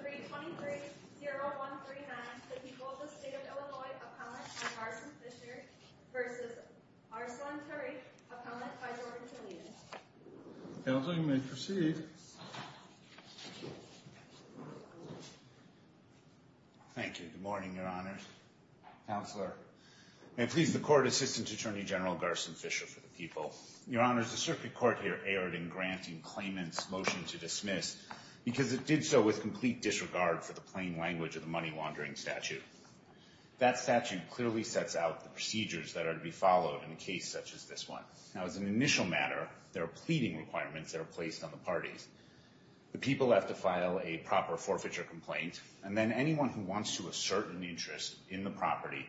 $323,0139 to the people of the State of Illinois, a comment by Garson Fisher v. Arsalan Tariq, a comment by Jordan Toledo. Counsel, you may proceed. Thank you. Good morning, Your Honors. Counselor. May it please the Court, Assistant Attorney General Garson Fisher for the people. Your Honors, the Circuit Court here erred in granting claimant's motion to dismiss because it did so with complete disregard for the plain language of the money-laundering statute. That statute clearly sets out the procedures that are to be followed in a case such as this one. Now, as an initial matter, there are pleading requirements that are placed on the parties. The people have to file a proper forfeiture complaint, and then anyone who wants to assert an interest in the property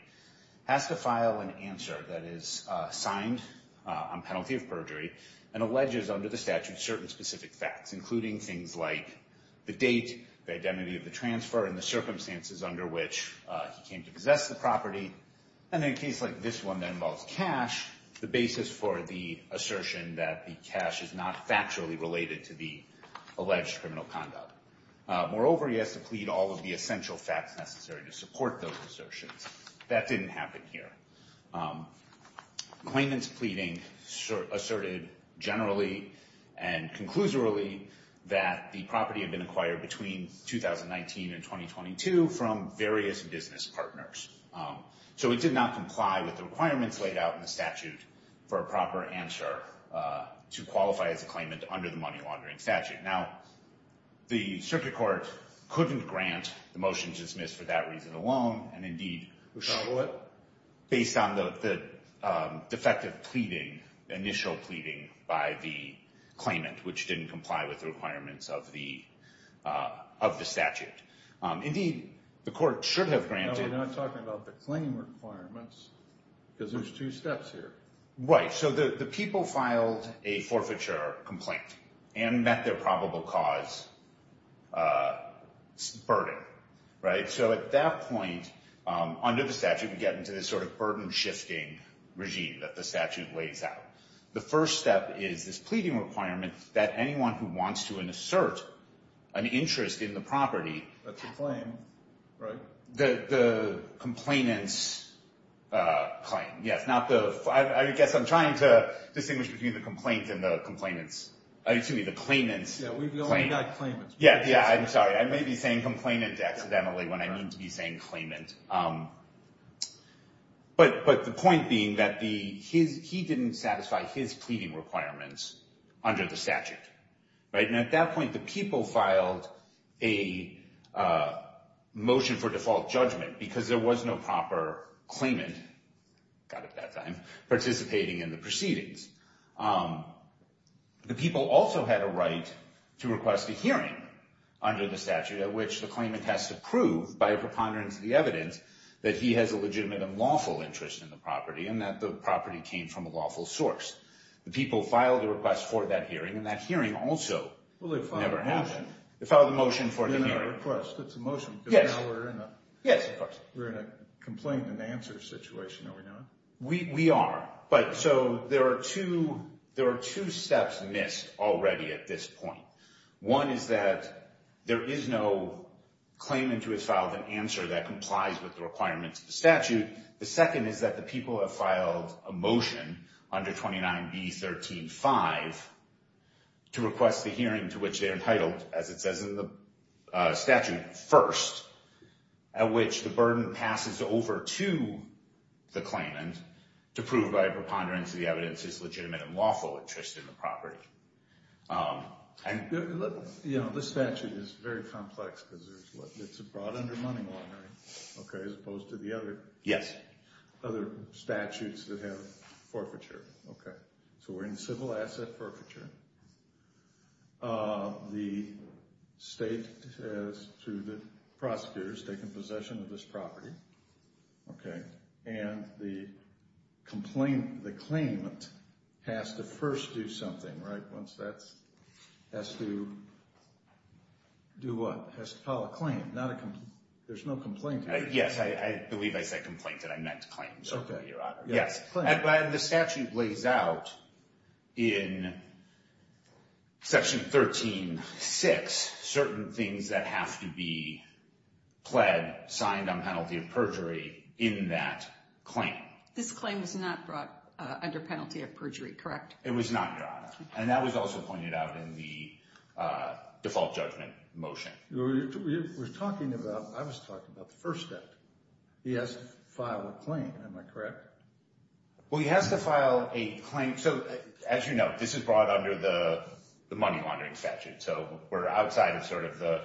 has to file an answer that is signed on penalty of perjury and alleges under the statute certain specific facts, including things like the date, the identity of the transfer, and the circumstances under which he came to possess the property. And in a case like this one that involves cash, the basis for the assertion that the cash is not factually related to the alleged criminal conduct. Moreover, he has to plead all of the essential facts necessary to support those assertions. That didn't happen here. Claimant's pleading asserted generally and conclusively that the property had been acquired between 2019 and 2022 from various business partners. So it did not comply with the requirements laid out in the statute for a proper answer to qualify as a claimant under the money-laundering statute. Now, the Circuit Court couldn't grant the motion to dismiss for that reason alone, and indeed based on the defective initial pleading by the claimant, which didn't comply with the requirements of the statute. Indeed, the court should have granted— No, we're not talking about the claim requirements, because there's two steps here. Right. So the people filed a forfeiture complaint and met their probable cause burden, right? So at that point, under the statute, we get into this sort of burden-shifting regime that the statute lays out. The first step is this pleading requirement that anyone who wants to assert an interest in the property— That's a claim, right? The complainant's claim, yes. I guess I'm trying to distinguish between the complaint and the complainant's—excuse me, the claimant's claim. Yeah, we've only got claimants. Yeah, yeah, I'm sorry. I may be saying complainant accidentally when I mean to be saying claimant. But the point being that he didn't satisfy his pleading requirements under the statute, right? And at that point, the people filed a motion for default judgment because there was no proper claimant— God, at that time—participating in the proceedings. The people also had a right to request a hearing under the statute at which the claimant has to prove, by a preponderance of the evidence, that he has a legitimate and lawful interest in the property and that the property came from a lawful source. The people filed a request for that hearing, and that hearing also never happened. Well, they filed a motion. They filed a motion for the hearing. It's not a request. It's a motion. Yes. Because now we're in a complaint-and-answer situation, are we not? We are. So there are two steps missed already at this point. One is that there is no claimant who has filed an answer that complies with the requirements of the statute. The second is that the people have filed a motion under 29B.13.5 to request the hearing to which they're entitled, as it says in the statute, first, at which the burden passes over to the claimant to prove, by a preponderance of the evidence, his legitimate and lawful interest in the property. You know, this statute is very complex because it's brought under money laundering as opposed to the other statutes that have forfeiture. So we're in civil asset forfeiture. The state has, through the prosecutors, taken possession of this property. Okay. And the claimant has to first do something, right? Once that's, has to do what? Has to file a claim. There's no complaint here. Yes. I believe I said complaint, and I meant claim, Your Honor. Okay. Yes. And the statute lays out in Section 13.6 certain things that have to be pled, signed on penalty of perjury in that claim. This claim was not brought under penalty of perjury, correct? It was not, Your Honor. And that was also pointed out in the default judgment motion. We're talking about, I was talking about the first step. He has to file a claim. Am I correct? Well, he has to file a claim. So as you know, this is brought under the money laundering statute. So we're outside of sort of the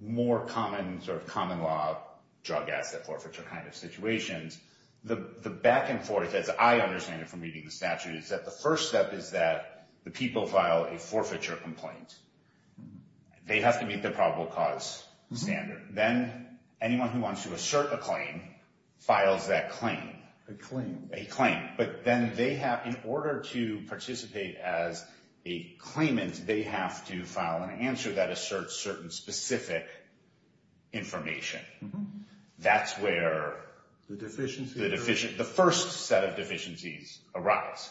more common sort of common law drug asset forfeiture kind of situations. The back and forth, as I understand it from reading the statute, is that the first step is that the people file a forfeiture complaint. They have to meet the probable cause standard. Then anyone who wants to assert a claim files that claim. A claim. A claim. But then they have, in order to participate as a claimant, they have to file an answer that asserts certain specific information. That's where the deficient, the first set of deficiencies arise.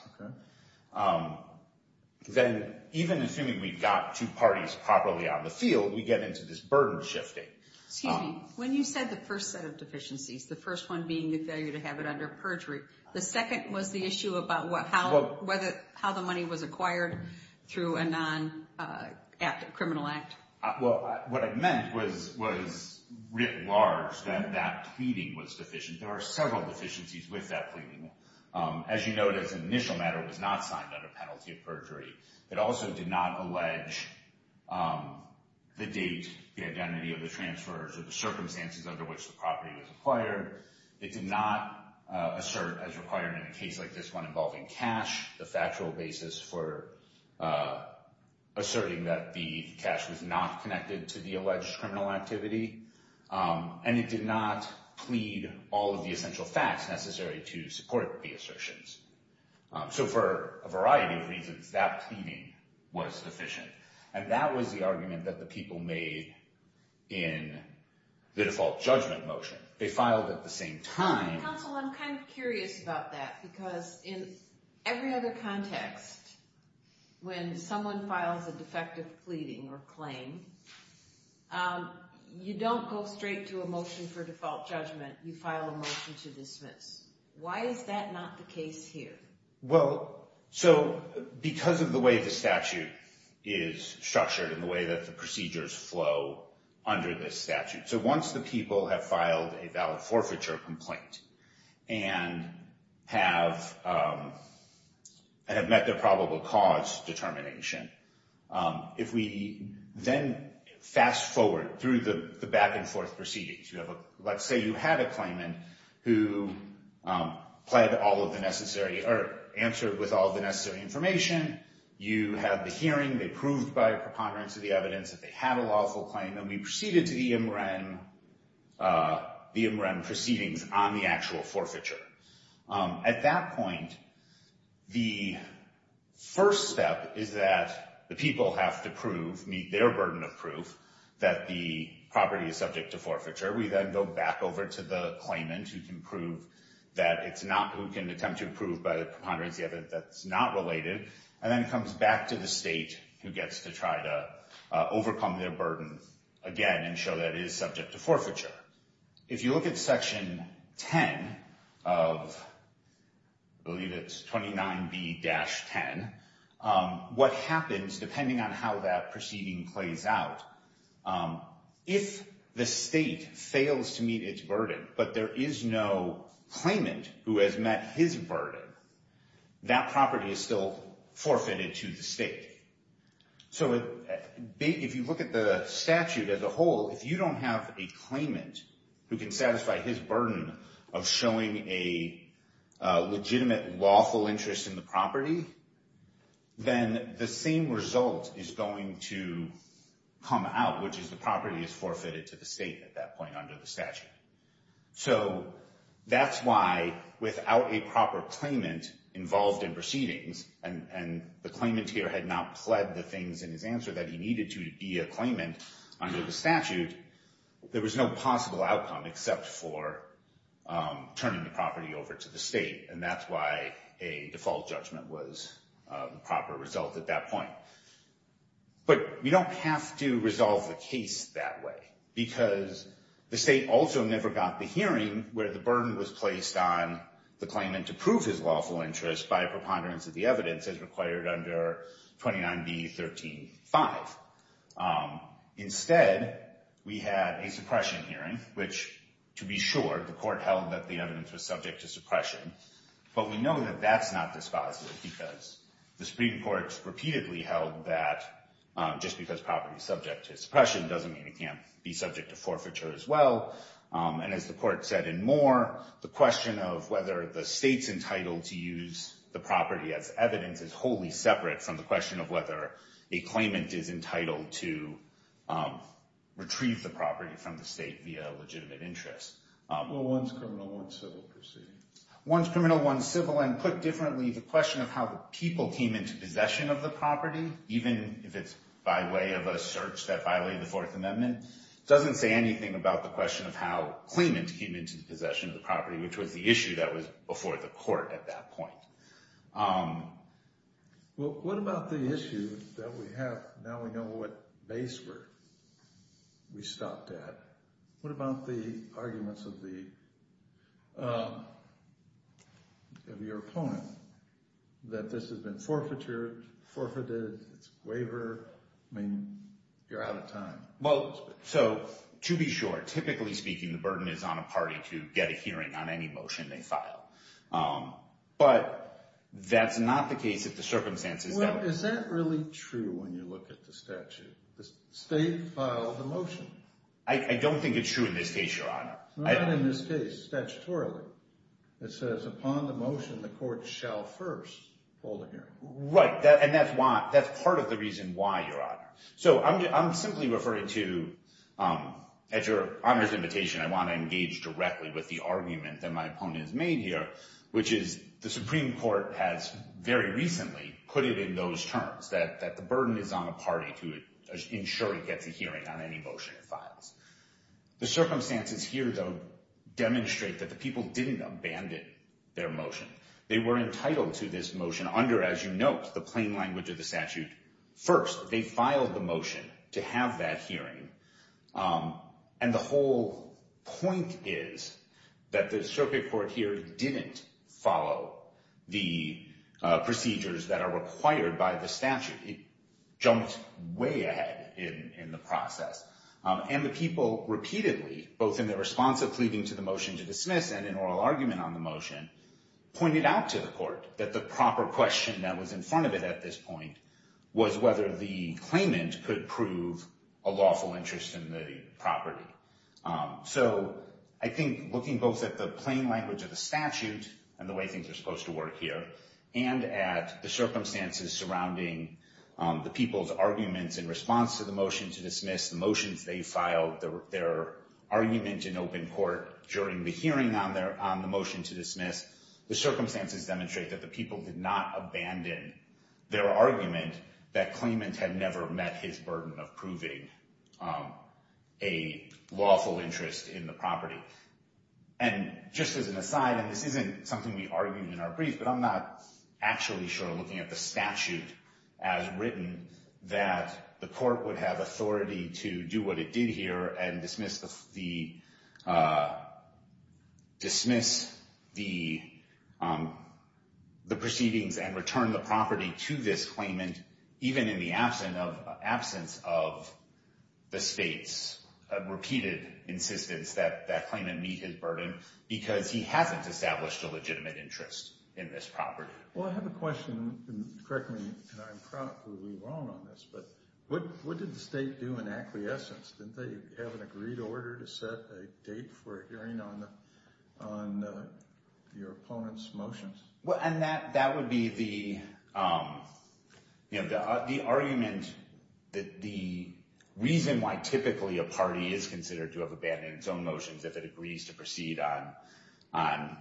Then even assuming we've got two parties properly on the field, we get into this burden shifting. Excuse me. When you said the first set of deficiencies, the first one being the failure to have it under perjury, the second was the issue about how the money was acquired through a non-criminal act. Well, what I meant was writ large that that pleading was deficient. There are several deficiencies with that pleading. As you note, as an initial matter, it was not signed under penalty of perjury. It also did not allege the date, the identity of the transfers, or the circumstances under which the property was acquired. It did not assert, as required in a case like this one involving cash, the factual basis for asserting that the cash was not connected to the alleged criminal activity. It did not plead all of the essential facts necessary to support the assertions. For a variety of reasons, that pleading was deficient. That was the argument that the people made in the default judgment motion. They filed at the same time. Counsel, I'm kind of curious about that. Because in every other context, when someone files a defective pleading or claim, you don't go straight to a motion for default judgment. You file a motion to dismiss. Why is that not the case here? Well, because of the way the statute is structured and the way that the procedures flow under this statute. So once the people have filed a valid forfeiture complaint and have met their probable cause determination, if we then fast-forward through the back-and-forth proceedings, let's say you had a claimant who answered with all the necessary information. You had the hearing. They proved by a preponderance of the evidence that they had a lawful claim. And then we proceeded to the MRN proceedings on the actual forfeiture. At that point, the first step is that the people have to prove, meet their burden of proof, that the property is subject to forfeiture. We then go back over to the claimant who can prove that it's not, who can attempt to prove by a preponderance of the evidence that's not related. And then it comes back to the state who gets to try to overcome their burden again and show that it is subject to forfeiture. If you look at Section 10 of, I believe it's 29B-10, what happens, depending on how that proceeding plays out, if the state fails to meet its burden but there is no claimant who has met his burden, that property is still forfeited to the state. So if you look at the statute as a whole, if you don't have a claimant who can satisfy his burden of showing a legitimate lawful interest in the property, then the same result is going to come out, which is the property is forfeited to the state at that point under the statute. So that's why without a proper claimant involved in proceedings, and the claimant here had not pled the things in his answer that he needed to be a claimant under the statute, there was no possible outcome except for turning the property over to the state. And that's why a default judgment was the proper result at that point. But we don't have to resolve the case that way because the state also never got the hearing where the burden was placed on the claimant to prove his lawful interest by a preponderance of the evidence as required under 29B-13-5. Instead, we had a suppression hearing, which, to be sure, the court held that the evidence was subject to suppression. But we know that that's not dispositive because the Supreme Court repeatedly held that just because property is subject to suppression doesn't mean it can't be subject to forfeiture as well. And as the court said in Moore, the question of whether the state's entitled to use the property as evidence is wholly separate from the question of whether a claimant is entitled to retrieve the property from the state via legitimate interest. Well, one's criminal, one's civil proceeding. One's criminal, one's civil. And put differently, the question of how the people came into possession of the property, even if it's by way of a search that violated the Fourth Amendment, doesn't say anything about the question of how claimants came into possession of the property, which was the issue that was before the court at that point. Well, what about the issue that we have now we know what base we stopped at? What about the arguments of your opponent that this has been forfeited, it's a waiver? I mean, you're out of time. Well, so to be sure, typically speaking, the burden is on a party to get a hearing on any motion they file. But that's not the case if the circumstances— Well, is that really true when you look at the statute? The state filed the motion. I don't think it's true in this case, Your Honor. Not in this case, statutorily. It says upon the motion the court shall first hold a hearing. Right, and that's part of the reason why, Your Honor. So I'm simply referring to, at Your Honor's invitation, I want to engage directly with the argument that my opponent has made here, which is the Supreme Court has very recently put it in those terms, that the burden is on a party to ensure it gets a hearing on any motion it files. The circumstances here, though, demonstrate that the people didn't abandon their motion. They were entitled to this motion under, as you note, the plain language of the statute. First, they filed the motion to have that hearing. And the whole point is that the Supreme Court here didn't follow the procedures that are required by the statute. It jumped way ahead in the process. And the people repeatedly, both in their response of pleading to the motion to dismiss and in oral argument on the motion, pointed out to the court that the proper question that was in front of it at this point was whether the claimant could prove a lawful interest in the property. So I think looking both at the plain language of the statute and the way things are supposed to work here and at the circumstances surrounding the people's arguments in response to the motion to dismiss, the motions they filed, their argument in open court during the hearing on the motion to dismiss, the circumstances demonstrate that the people did not abandon their argument that claimant had never met his burden of proving a lawful interest in the property. And just as an aside, and this isn't something we argued in our brief, but I'm not actually sure, looking at the statute as written, that the court would have authority to do what it did here and dismiss the proceedings and return the property to this claimant even in the absence of the state's repeated insistence that that claimant meet his burden because he hasn't established a legitimate interest in this property. Well, I have a question, and correct me, and I'm probably wrong on this, but what did the state do in acquiescence? Didn't they have an agreed order to set a date for a hearing on your opponent's motions? Well, and that would be the argument that the reason why typically a party is considered to have abandoned its own motions if it agrees to proceed on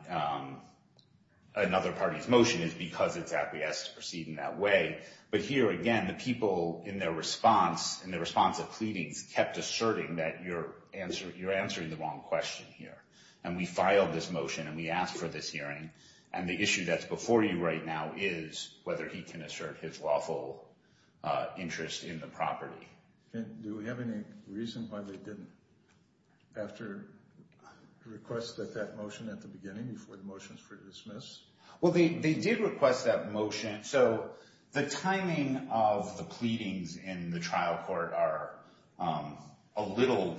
another party's motion is because it's acquiesced to proceed in that way. But here, again, the people in their response, in their response to pleadings, kept asserting that you're answering the wrong question here. And we filed this motion, and we asked for this hearing, and the issue that's before you right now is whether he can assert his lawful interest in the property. Do we have any reason why they didn't, after a request for that motion at the beginning, before the motions were dismissed? Well, they did request that motion. So the timing of the pleadings in the trial court are a little,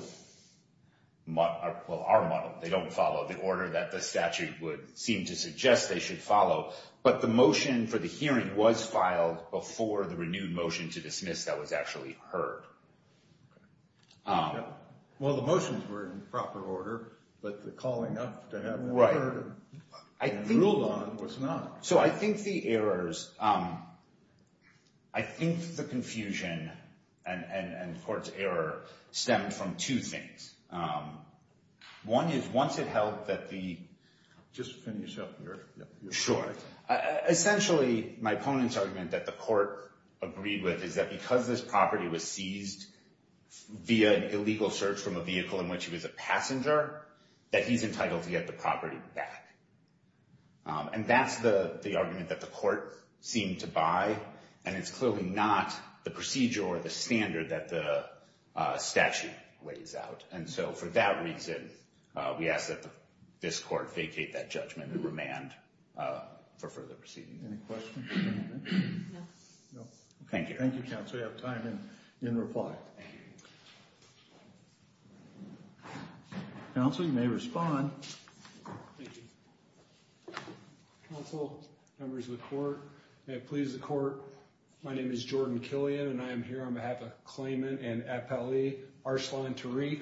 well, are muddled. They don't follow the order that the statute would seem to suggest they should follow. But the motion for the hearing was filed before the renewed motion to dismiss that was actually heard. Well, the motions were in proper order, but the calling up to have them heard and ruled on was not. So I think the errors, I think the confusion and court's error stemmed from two things. One is, once it held that the- Just finish up your- Sure. Essentially, my opponent's argument that the court agreed with is that because this property was seized via an illegal search from a vehicle in which he was a passenger, that he's entitled to get the property back. And that's the argument that the court seemed to buy, and it's clearly not the procedure or the standard that the statute weighs out. And so for that reason, we ask that this court vacate that judgment and remand for further proceedings. Any questions? No. Thank you. Thank you, counsel. We have time in reply. Thank you. Counsel, you may respond. Thank you. Counsel, members of the court, may it please the court, my name is Jordan Killian, and I am here on behalf of Klayman and Epeli, Arsalan Tariq.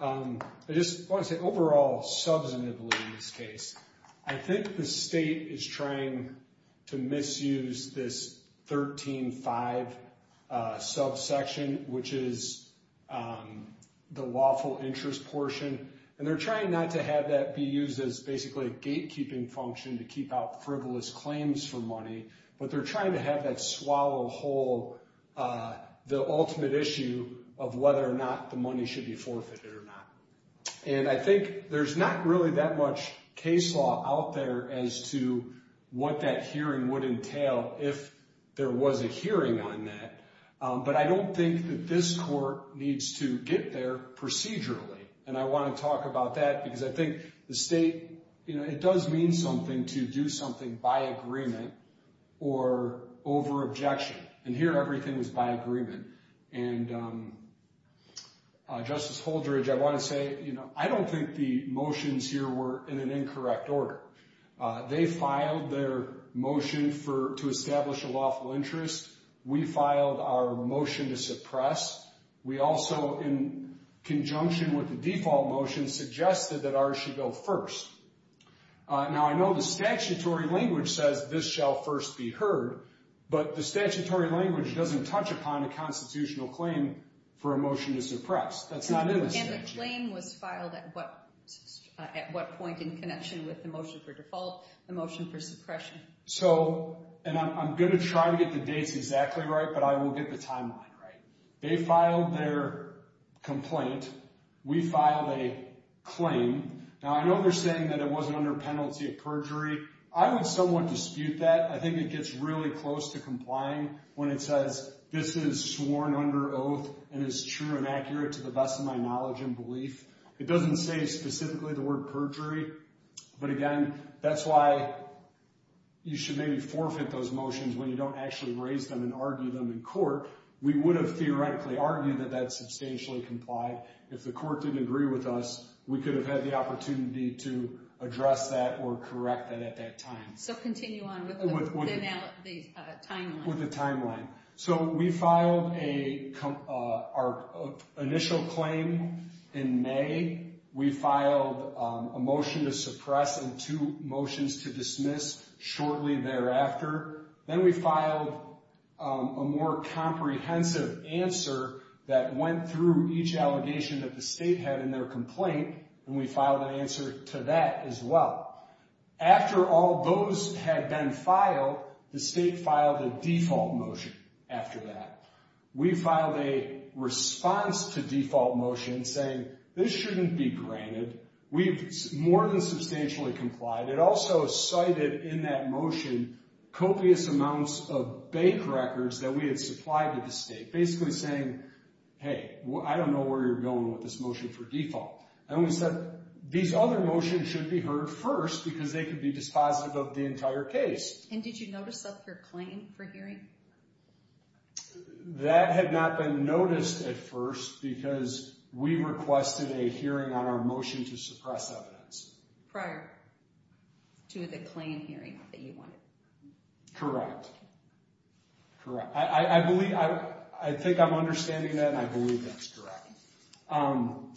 I just want to say overall, substantively in this case, I think the state is trying to misuse this 13-5 subsection, which is the lawful interest portion, and they're trying not to have that be used as basically a gatekeeping function to keep out frivolous claims for money, but they're trying to have that swallow whole the ultimate issue of whether or not the money should be forfeited or not. And I think there's not really that much case law out there as to what that hearing would entail if there was a hearing on that. But I don't think that this court needs to get there procedurally. And I want to talk about that because I think the state, you know, it does mean something to do something by agreement or over objection. And here everything is by agreement. And Justice Holdredge, I want to say, you know, I don't think the motions here were in an incorrect order. They filed their motion to establish a lawful interest. We filed our motion to suppress. We also, in conjunction with the default motion, suggested that ours should go first. Now, I know the statutory language says this shall first be heard, but the statutory language doesn't touch upon a constitutional claim for a motion to suppress. That's not in the statute. And the claim was filed at what point in connection with the motion for default, the motion for suppression? So, and I'm going to try to get the dates exactly right, but I will get the timeline right. They filed their complaint. We filed a claim. Now, I know they're saying that it wasn't under penalty of perjury. I would somewhat dispute that. I think it gets really close to complying when it says this is sworn under oath and is true and accurate to the best of my knowledge and belief. It doesn't say specifically the word perjury. But, again, that's why you should maybe forfeit those motions when you don't actually raise them and argue them in court. We would have theoretically argued that that's substantially complied. If the court didn't agree with us, we could have had the opportunity to address that or correct that at that time. So continue on with the timeline. With the timeline. So we filed our initial claim in May. We filed a motion to suppress and two motions to dismiss shortly thereafter. Then we filed a more comprehensive answer that went through each allegation that the state had in their complaint, and we filed an answer to that as well. After all those had been filed, the state filed a default motion after that. We filed a response to default motion saying this shouldn't be granted. We've more than substantially complied. It also cited in that motion copious amounts of bank records that we had supplied to the state. Basically saying, hey, I don't know where you're going with this motion for default. And we said these other motions should be heard first because they could be dispositive of the entire case. And did you notice up your claim for hearing? That had not been noticed at first because we requested a hearing on our motion to suppress evidence. Prior to the claim hearing that you wanted. Correct. I think I'm understanding that, and I believe that's correct.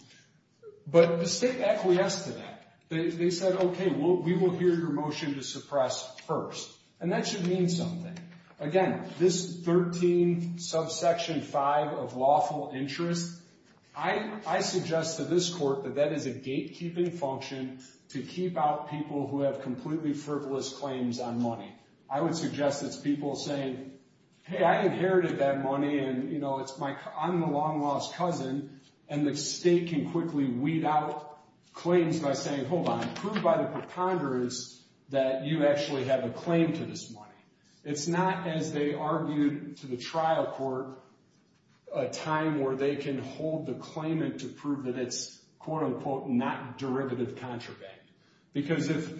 But the state acquiesced to that. They said, okay, we will hear your motion to suppress first. And that should mean something. Again, this 13 subsection 5 of lawful interest, I suggest to this court that that is a gatekeeping function to keep out people who have completely frivolous claims on money. I would suggest it's people saying, hey, I inherited that money, and I'm the long-lost cousin. And the state can quickly weed out claims by saying, hold on, prove by the preponderance that you actually have a claim to this money. It's not, as they argued to the trial court, a time where they can hold the claimant to prove that it's, quote-unquote, not derivative contraband. Because if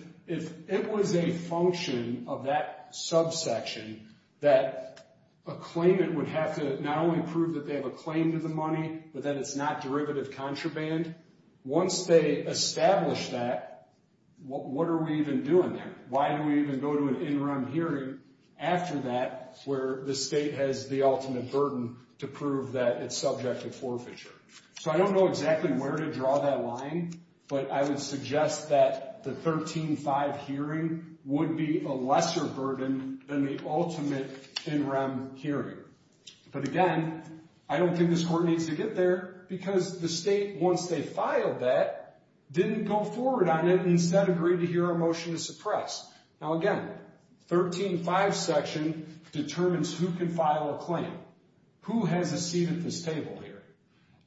it was a function of that subsection that a claimant would have to not only prove that they have a claim to the money, but that it's not derivative contraband, once they establish that, what are we even doing there? Why do we even go to an in-rem hearing after that where the state has the ultimate burden to prove that it's subject to forfeiture? So I don't know exactly where to draw that line, but I would suggest that the 13 subsection 5 hearing would be a lesser burden than the ultimate in-rem hearing. But again, I don't think this court needs to get there because the state, once they filed that, didn't go forward on it and instead agreed to hear a motion to suppress. Now again, 13.5 section determines who can file a claim. Who has a seat at this table here?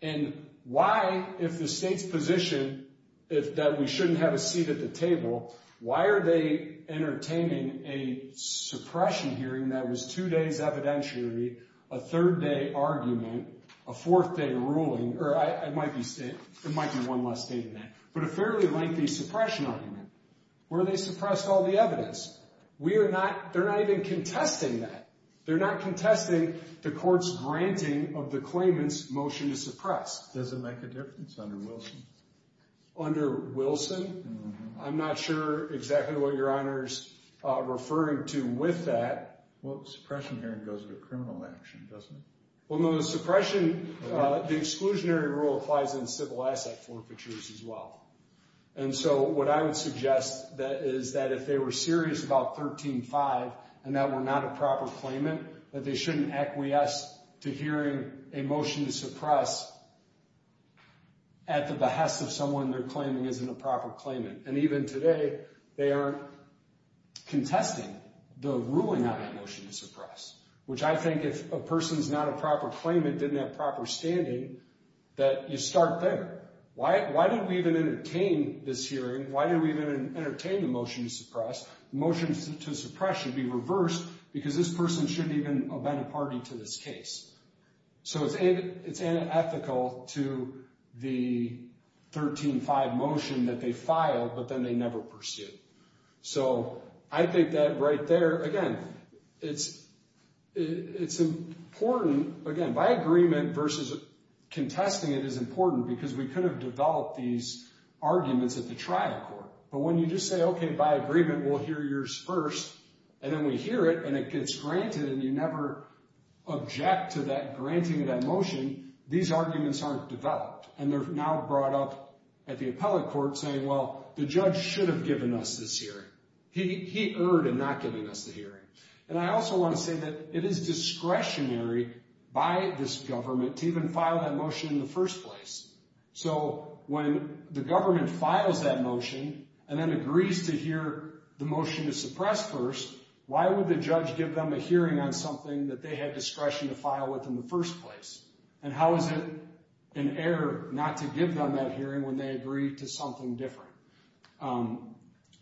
And why, if the state's position is that we shouldn't have a seat at the table, why are they entertaining a suppression hearing that was two days evidentiary, a third-day argument, a fourth-day ruling? Or it might be one less day than that. But a fairly lengthy suppression argument where they suppressed all the evidence. They're not even contesting that. Does it make a difference under Wilson? Under Wilson? I'm not sure exactly what Your Honor's referring to with that. Well, suppression hearing goes with criminal action, doesn't it? Well, no, the suppression, the exclusionary rule applies in civil asset forfeitures as well. And so what I would suggest is that if they were serious about 13.5 and that were not a proper claimant, that they shouldn't acquiesce to hearing a motion to suppress at the behest of someone they're claiming isn't a proper claimant. And even today, they are contesting the ruling on a motion to suppress, which I think if a person's not a proper claimant, didn't have proper standing, that you start there. Why did we even entertain this hearing? Why did we even entertain the motion to suppress? The motion to suppress should be reversed because this person shouldn't even have been a party to this case. So it's unethical to the 13.5 motion that they filed, but then they never pursued. So I think that right there, again, it's important, again, by agreement versus contesting it is important because we could have developed these arguments at the trial court. But when you just say, okay, by agreement, we'll hear yours first, and then we hear it, and it gets granted, and you never object to that granting of that motion, these arguments aren't developed. And they're now brought up at the appellate court saying, well, the judge should have given us this hearing. He erred in not giving us the hearing. And I also want to say that it is discretionary by this government to even file that motion in the first place. So when the government files that motion and then agrees to hear the motion to suppress first, why would the judge give them a hearing on something that they had discretion to file with in the first place? And how is it an error not to give them that hearing when they agree to something different?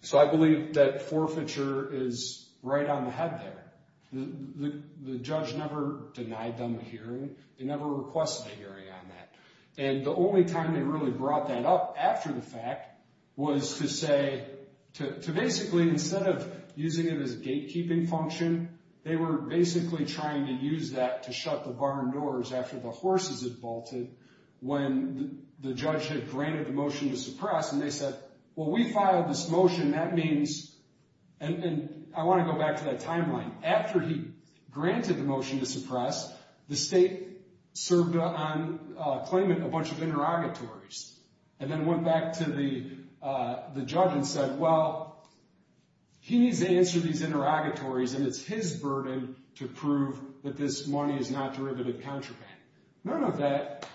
So I believe that forfeiture is right on the head there. The judge never denied them a hearing. They never requested a hearing on that. And the only time they really brought that up after the fact was to say to basically instead of using it as a gatekeeping function, they were basically trying to use that to shut the barn doors after the horses had bolted when the judge had granted the motion to suppress. And they said, well, we filed this motion. And I want to go back to that timeline. After he granted the motion to suppress, the state served on claiming a bunch of interrogatories and then went back to the judge and said, well, he needs to answer these interrogatories and it's his burden to prove that this money is not derivative contraband. None of that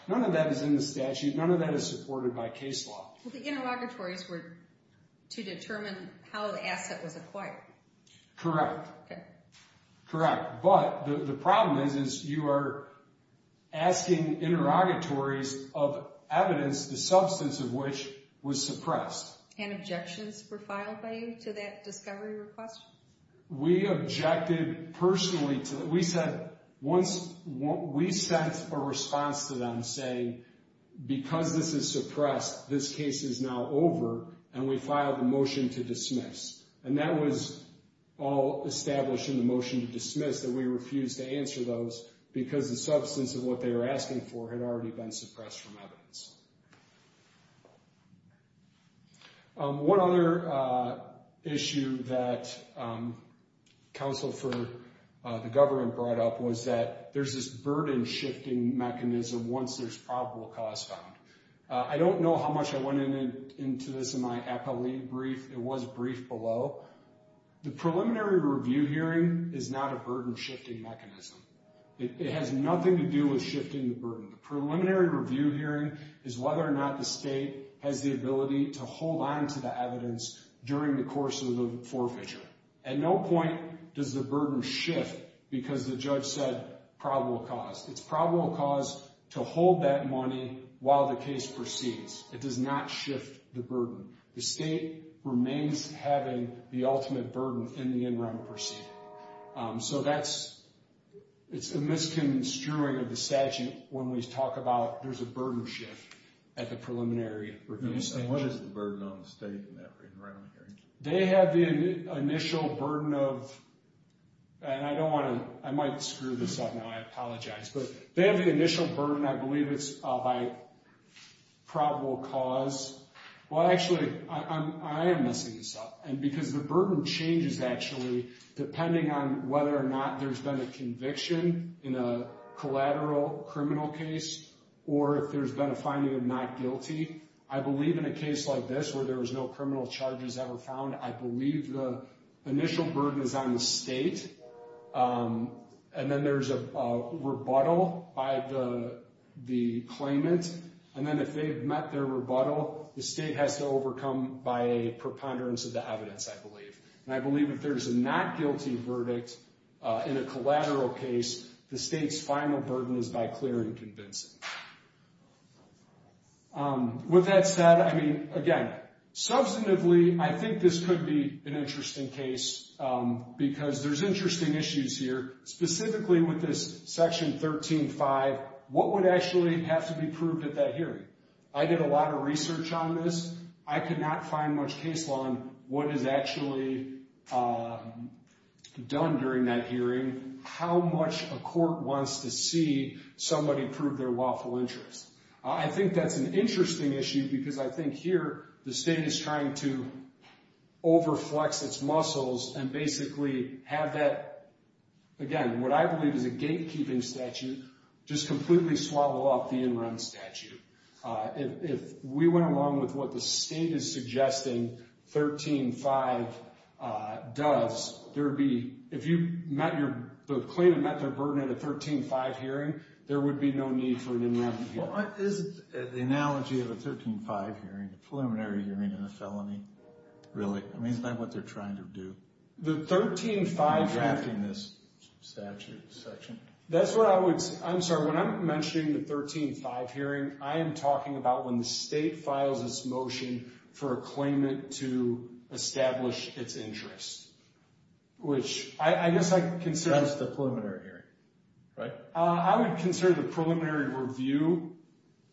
is in the statute. None of that is supported by case law. Well, the interrogatories were to determine how the asset was acquired. Correct. Okay. Correct. But the problem is you are asking interrogatories of evidence, the substance of which was suppressed. And objections were filed by you to that discovery request? We objected personally to it. We sent a response to them saying, because this is suppressed, this case is now over, and we filed a motion to dismiss. And that was all established in the motion to dismiss, that we refused to answer those because the substance of what they were asking for had already been suppressed from evidence. One other issue that counsel for the government brought up was that there's this burden-shifting mechanism once there's probable cause found. I don't know how much I went into this in my appellee brief. It was briefed below. The preliminary review hearing is not a burden-shifting mechanism. The preliminary review hearing is whether or not the state has the ability to hold on to the evidence during the course of the forfeiture. At no point does the burden shift because the judge said probable cause. It's probable cause to hold that money while the case proceeds. It does not shift the burden. The state remains having the ultimate burden in the interim proceeding. So that's, it's a misconstruing of the statute when we talk about there's a burden shift at the preliminary review stage. And what is the burden on the state in that interim hearing? They have the initial burden of, and I don't want to, I might screw this up now, I apologize. But they have the initial burden, I believe it's by probable cause. Well, actually, I am messing this up. And because the burden changes, actually, depending on whether or not there's been a conviction in a collateral criminal case or if there's been a finding of not guilty. I believe in a case like this where there was no criminal charges ever found, I believe the initial burden is on the state. And then there's a rebuttal by the claimant. And then if they've met their rebuttal, the state has to overcome by a preponderance of the evidence, I believe. And I believe if there's a not guilty verdict in a collateral case, the state's final burden is by clearing convincing. With that said, I mean, again, substantively, I think this could be an interesting case because there's interesting issues here. Specifically with this Section 13-5, what would actually have to be proved at that hearing? I did a lot of research on this. I could not find much case law on what is actually done during that hearing. How much a court wants to see somebody prove their lawful interest. I think that's an interesting issue because I think here the state is trying to overflex its muscles and basically have that, again, what I believe is a gatekeeping statute, just completely swallow up the in-run statute. If we went along with what the state is suggesting 13-5 does, if the claimant met their burden at a 13-5 hearing, there would be no need for an in-run hearing. What is the analogy of a 13-5 hearing, a preliminary hearing and a felony, really? I mean, is that what they're trying to do? The 13-5 hearing. In drafting this statute section. That's what I would say. I'm sorry, when I'm mentioning the 13-5 hearing, I am talking about when the state files its motion for a claimant to establish its interest, which I guess I consider... That's the preliminary hearing, right? I would consider the preliminary review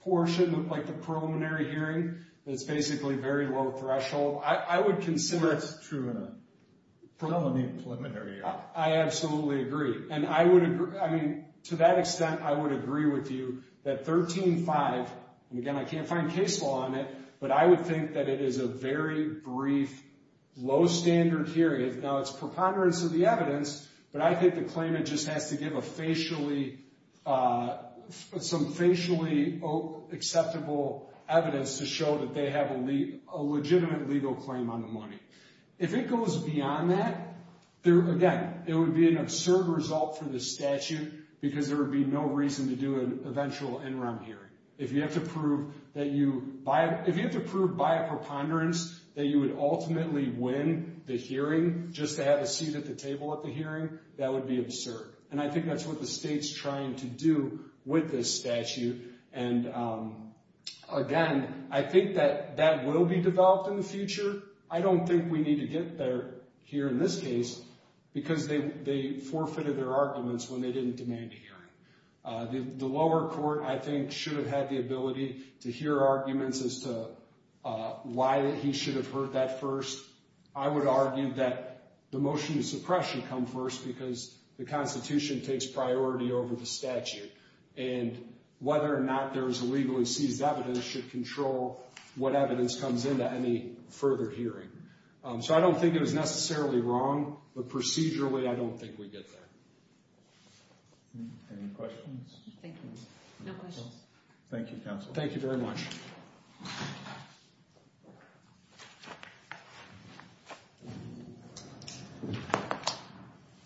portion, like the preliminary hearing, that's basically very low threshold. I would consider... That's true in a felony and preliminary hearing. I absolutely agree. And I would agree... I mean, to that extent, I would agree with you that 13-5, and again, I can't find case law on it, but I would think that it is a very brief, low-standard hearing. Now, it's preponderance of the evidence, but I think the claimant just has to give some facially acceptable evidence to show that they have a legitimate legal claim on the money. If it goes beyond that, again, it would be an absurd result for the statute because there would be no reason to do an eventual interim hearing. If you have to prove by a preponderance that you would ultimately win the hearing just to have a seat at the table at the hearing, that would be absurd. And I think that's what the state's trying to do with this statute. And again, I think that that will be developed in the future. I don't think we need to get there here in this case because they forfeited their arguments when they didn't demand a hearing. The lower court, I think, should have had the ability to hear arguments as to why he should have heard that first. I would argue that the motion to suppress should come first because the Constitution takes priority over the statute, and whether or not there is a legally seized evidence should control what evidence comes into any further hearing. So I don't think it was necessarily wrong, but procedurally, I don't think we get there. Any questions? Thank you. No questions. Thank you, counsel. Thank you very much.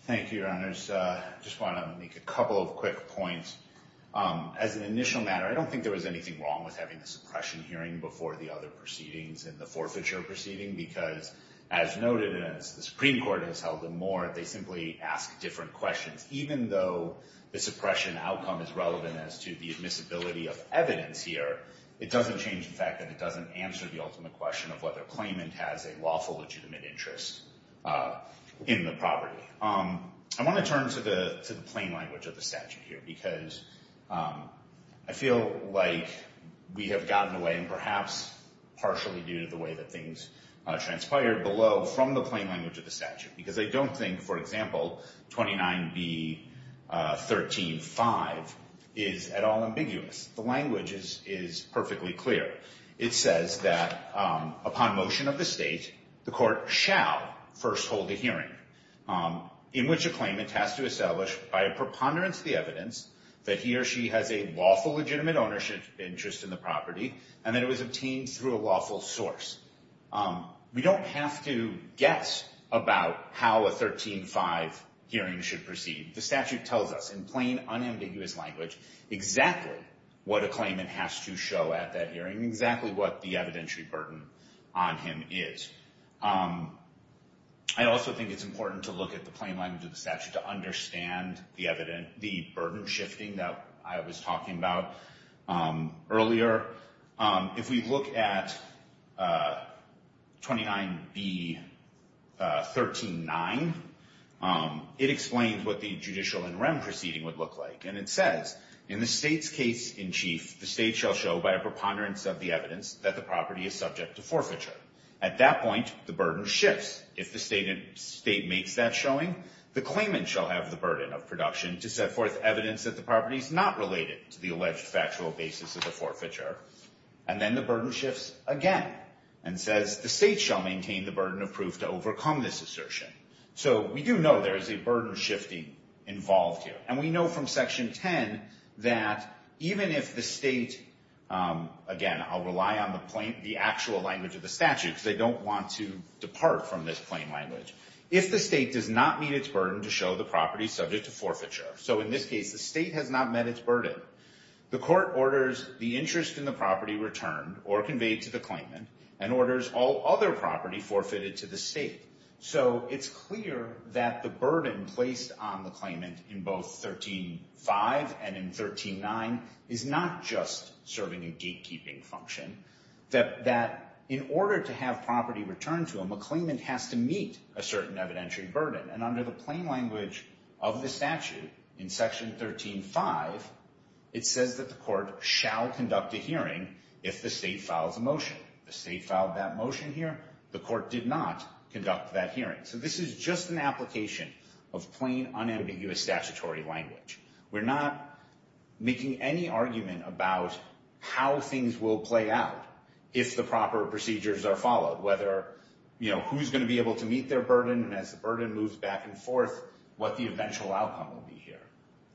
Thank you, Your Honors. I just want to make a couple of quick points. As an initial matter, I don't think there was anything wrong with having a suppression hearing before the other proceedings in the forfeiture proceeding because, as noted and as the Supreme Court has held them more, they simply ask different questions. Even though the suppression outcome is relevant as to the admissibility of evidence here, it doesn't change the fact that it doesn't answer the ultimate question of whether a claimant has a lawful legitimate interest in the property. I want to turn to the plain language of the statute here because I feel like we have gotten away, and perhaps partially due to the way that things transpired below, from the plain language of the statute because I don't think, for example, 29B.13.5 is at all ambiguous. The language is perfectly clear. It says that upon motion of the state, the court shall first hold a hearing in which a claimant has to establish, by a preponderance of the evidence, that he or she has a lawful legitimate ownership interest in the property and that it was obtained through a lawful source. We don't have to guess about how a 13.5 hearing should proceed. The statute tells us in plain, unambiguous language exactly what a claimant has to show at that hearing, exactly what the evidentiary burden on him is. I also think it's important to look at the plain language of the statute to understand the burden shifting that I was talking about earlier. If we look at 29B.13.9, it explains what the judicial in rem proceeding would look like. And it says, in the state's case in chief, the state shall show, by a preponderance of the evidence, that the property is subject to forfeiture. At that point, the burden shifts. If the state makes that showing, the claimant shall have the burden of production to set forth evidence that the property is not related to the alleged factual basis of the forfeiture. And then the burden shifts again and says, the state shall maintain the burden of proof to overcome this assertion. So we do know there is a burden shifting involved here. And we know from Section 10 that even if the state, again, I'll rely on the actual language of the statute because I don't want to depart from this plain language. If the state does not meet its burden to show the property subject to forfeiture, so in this case the state has not met its burden, the court orders the interest in the property returned or conveyed to the claimant and orders all other property forfeited to the state. So it's clear that the burden placed on the claimant in both 13.5 and in 13.9 is not just serving a gatekeeping function, that in order to have property returned to him, a claimant has to meet a certain evidentiary burden. And under the plain language of the statute in Section 13.5, it says that the court shall conduct a hearing if the state files a motion. If the state filed that motion here, the court did not conduct that hearing. So this is just an application of plain, unambiguous statutory language. We're not making any argument about how things will play out if the proper procedures are followed, whether, you know, who's going to be able to meet their burden, and as the burden moves back and forth, what the eventual outcome will be here.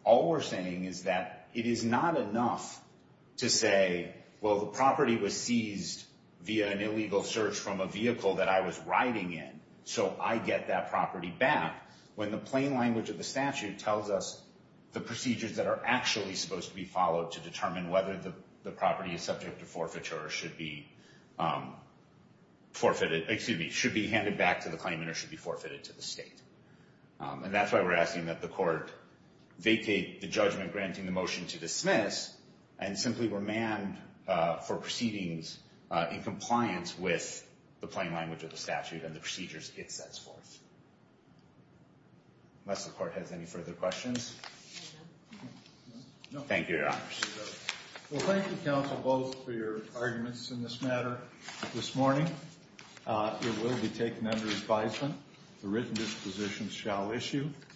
All we're saying is that it is not enough to say, well, the property was seized via an illegal search from a vehicle that I was riding in, so I get that property back when the plain language of the statute tells us the procedures that are actually supposed to be followed to determine whether the property is subject to forfeiture or should be handed back to the claimant or should be forfeited to the state. And that's why we're asking that the court vacate the judgment granting the motion to dismiss and simply remand for proceedings in compliance with the plain language of the statute and the procedures it sets forth. Unless the court has any further questions. Thank you, Your Honors. Well, thank you, counsel, both, for your arguments in this matter this morning. It will be taken under advisement. The written dispositions shall issue.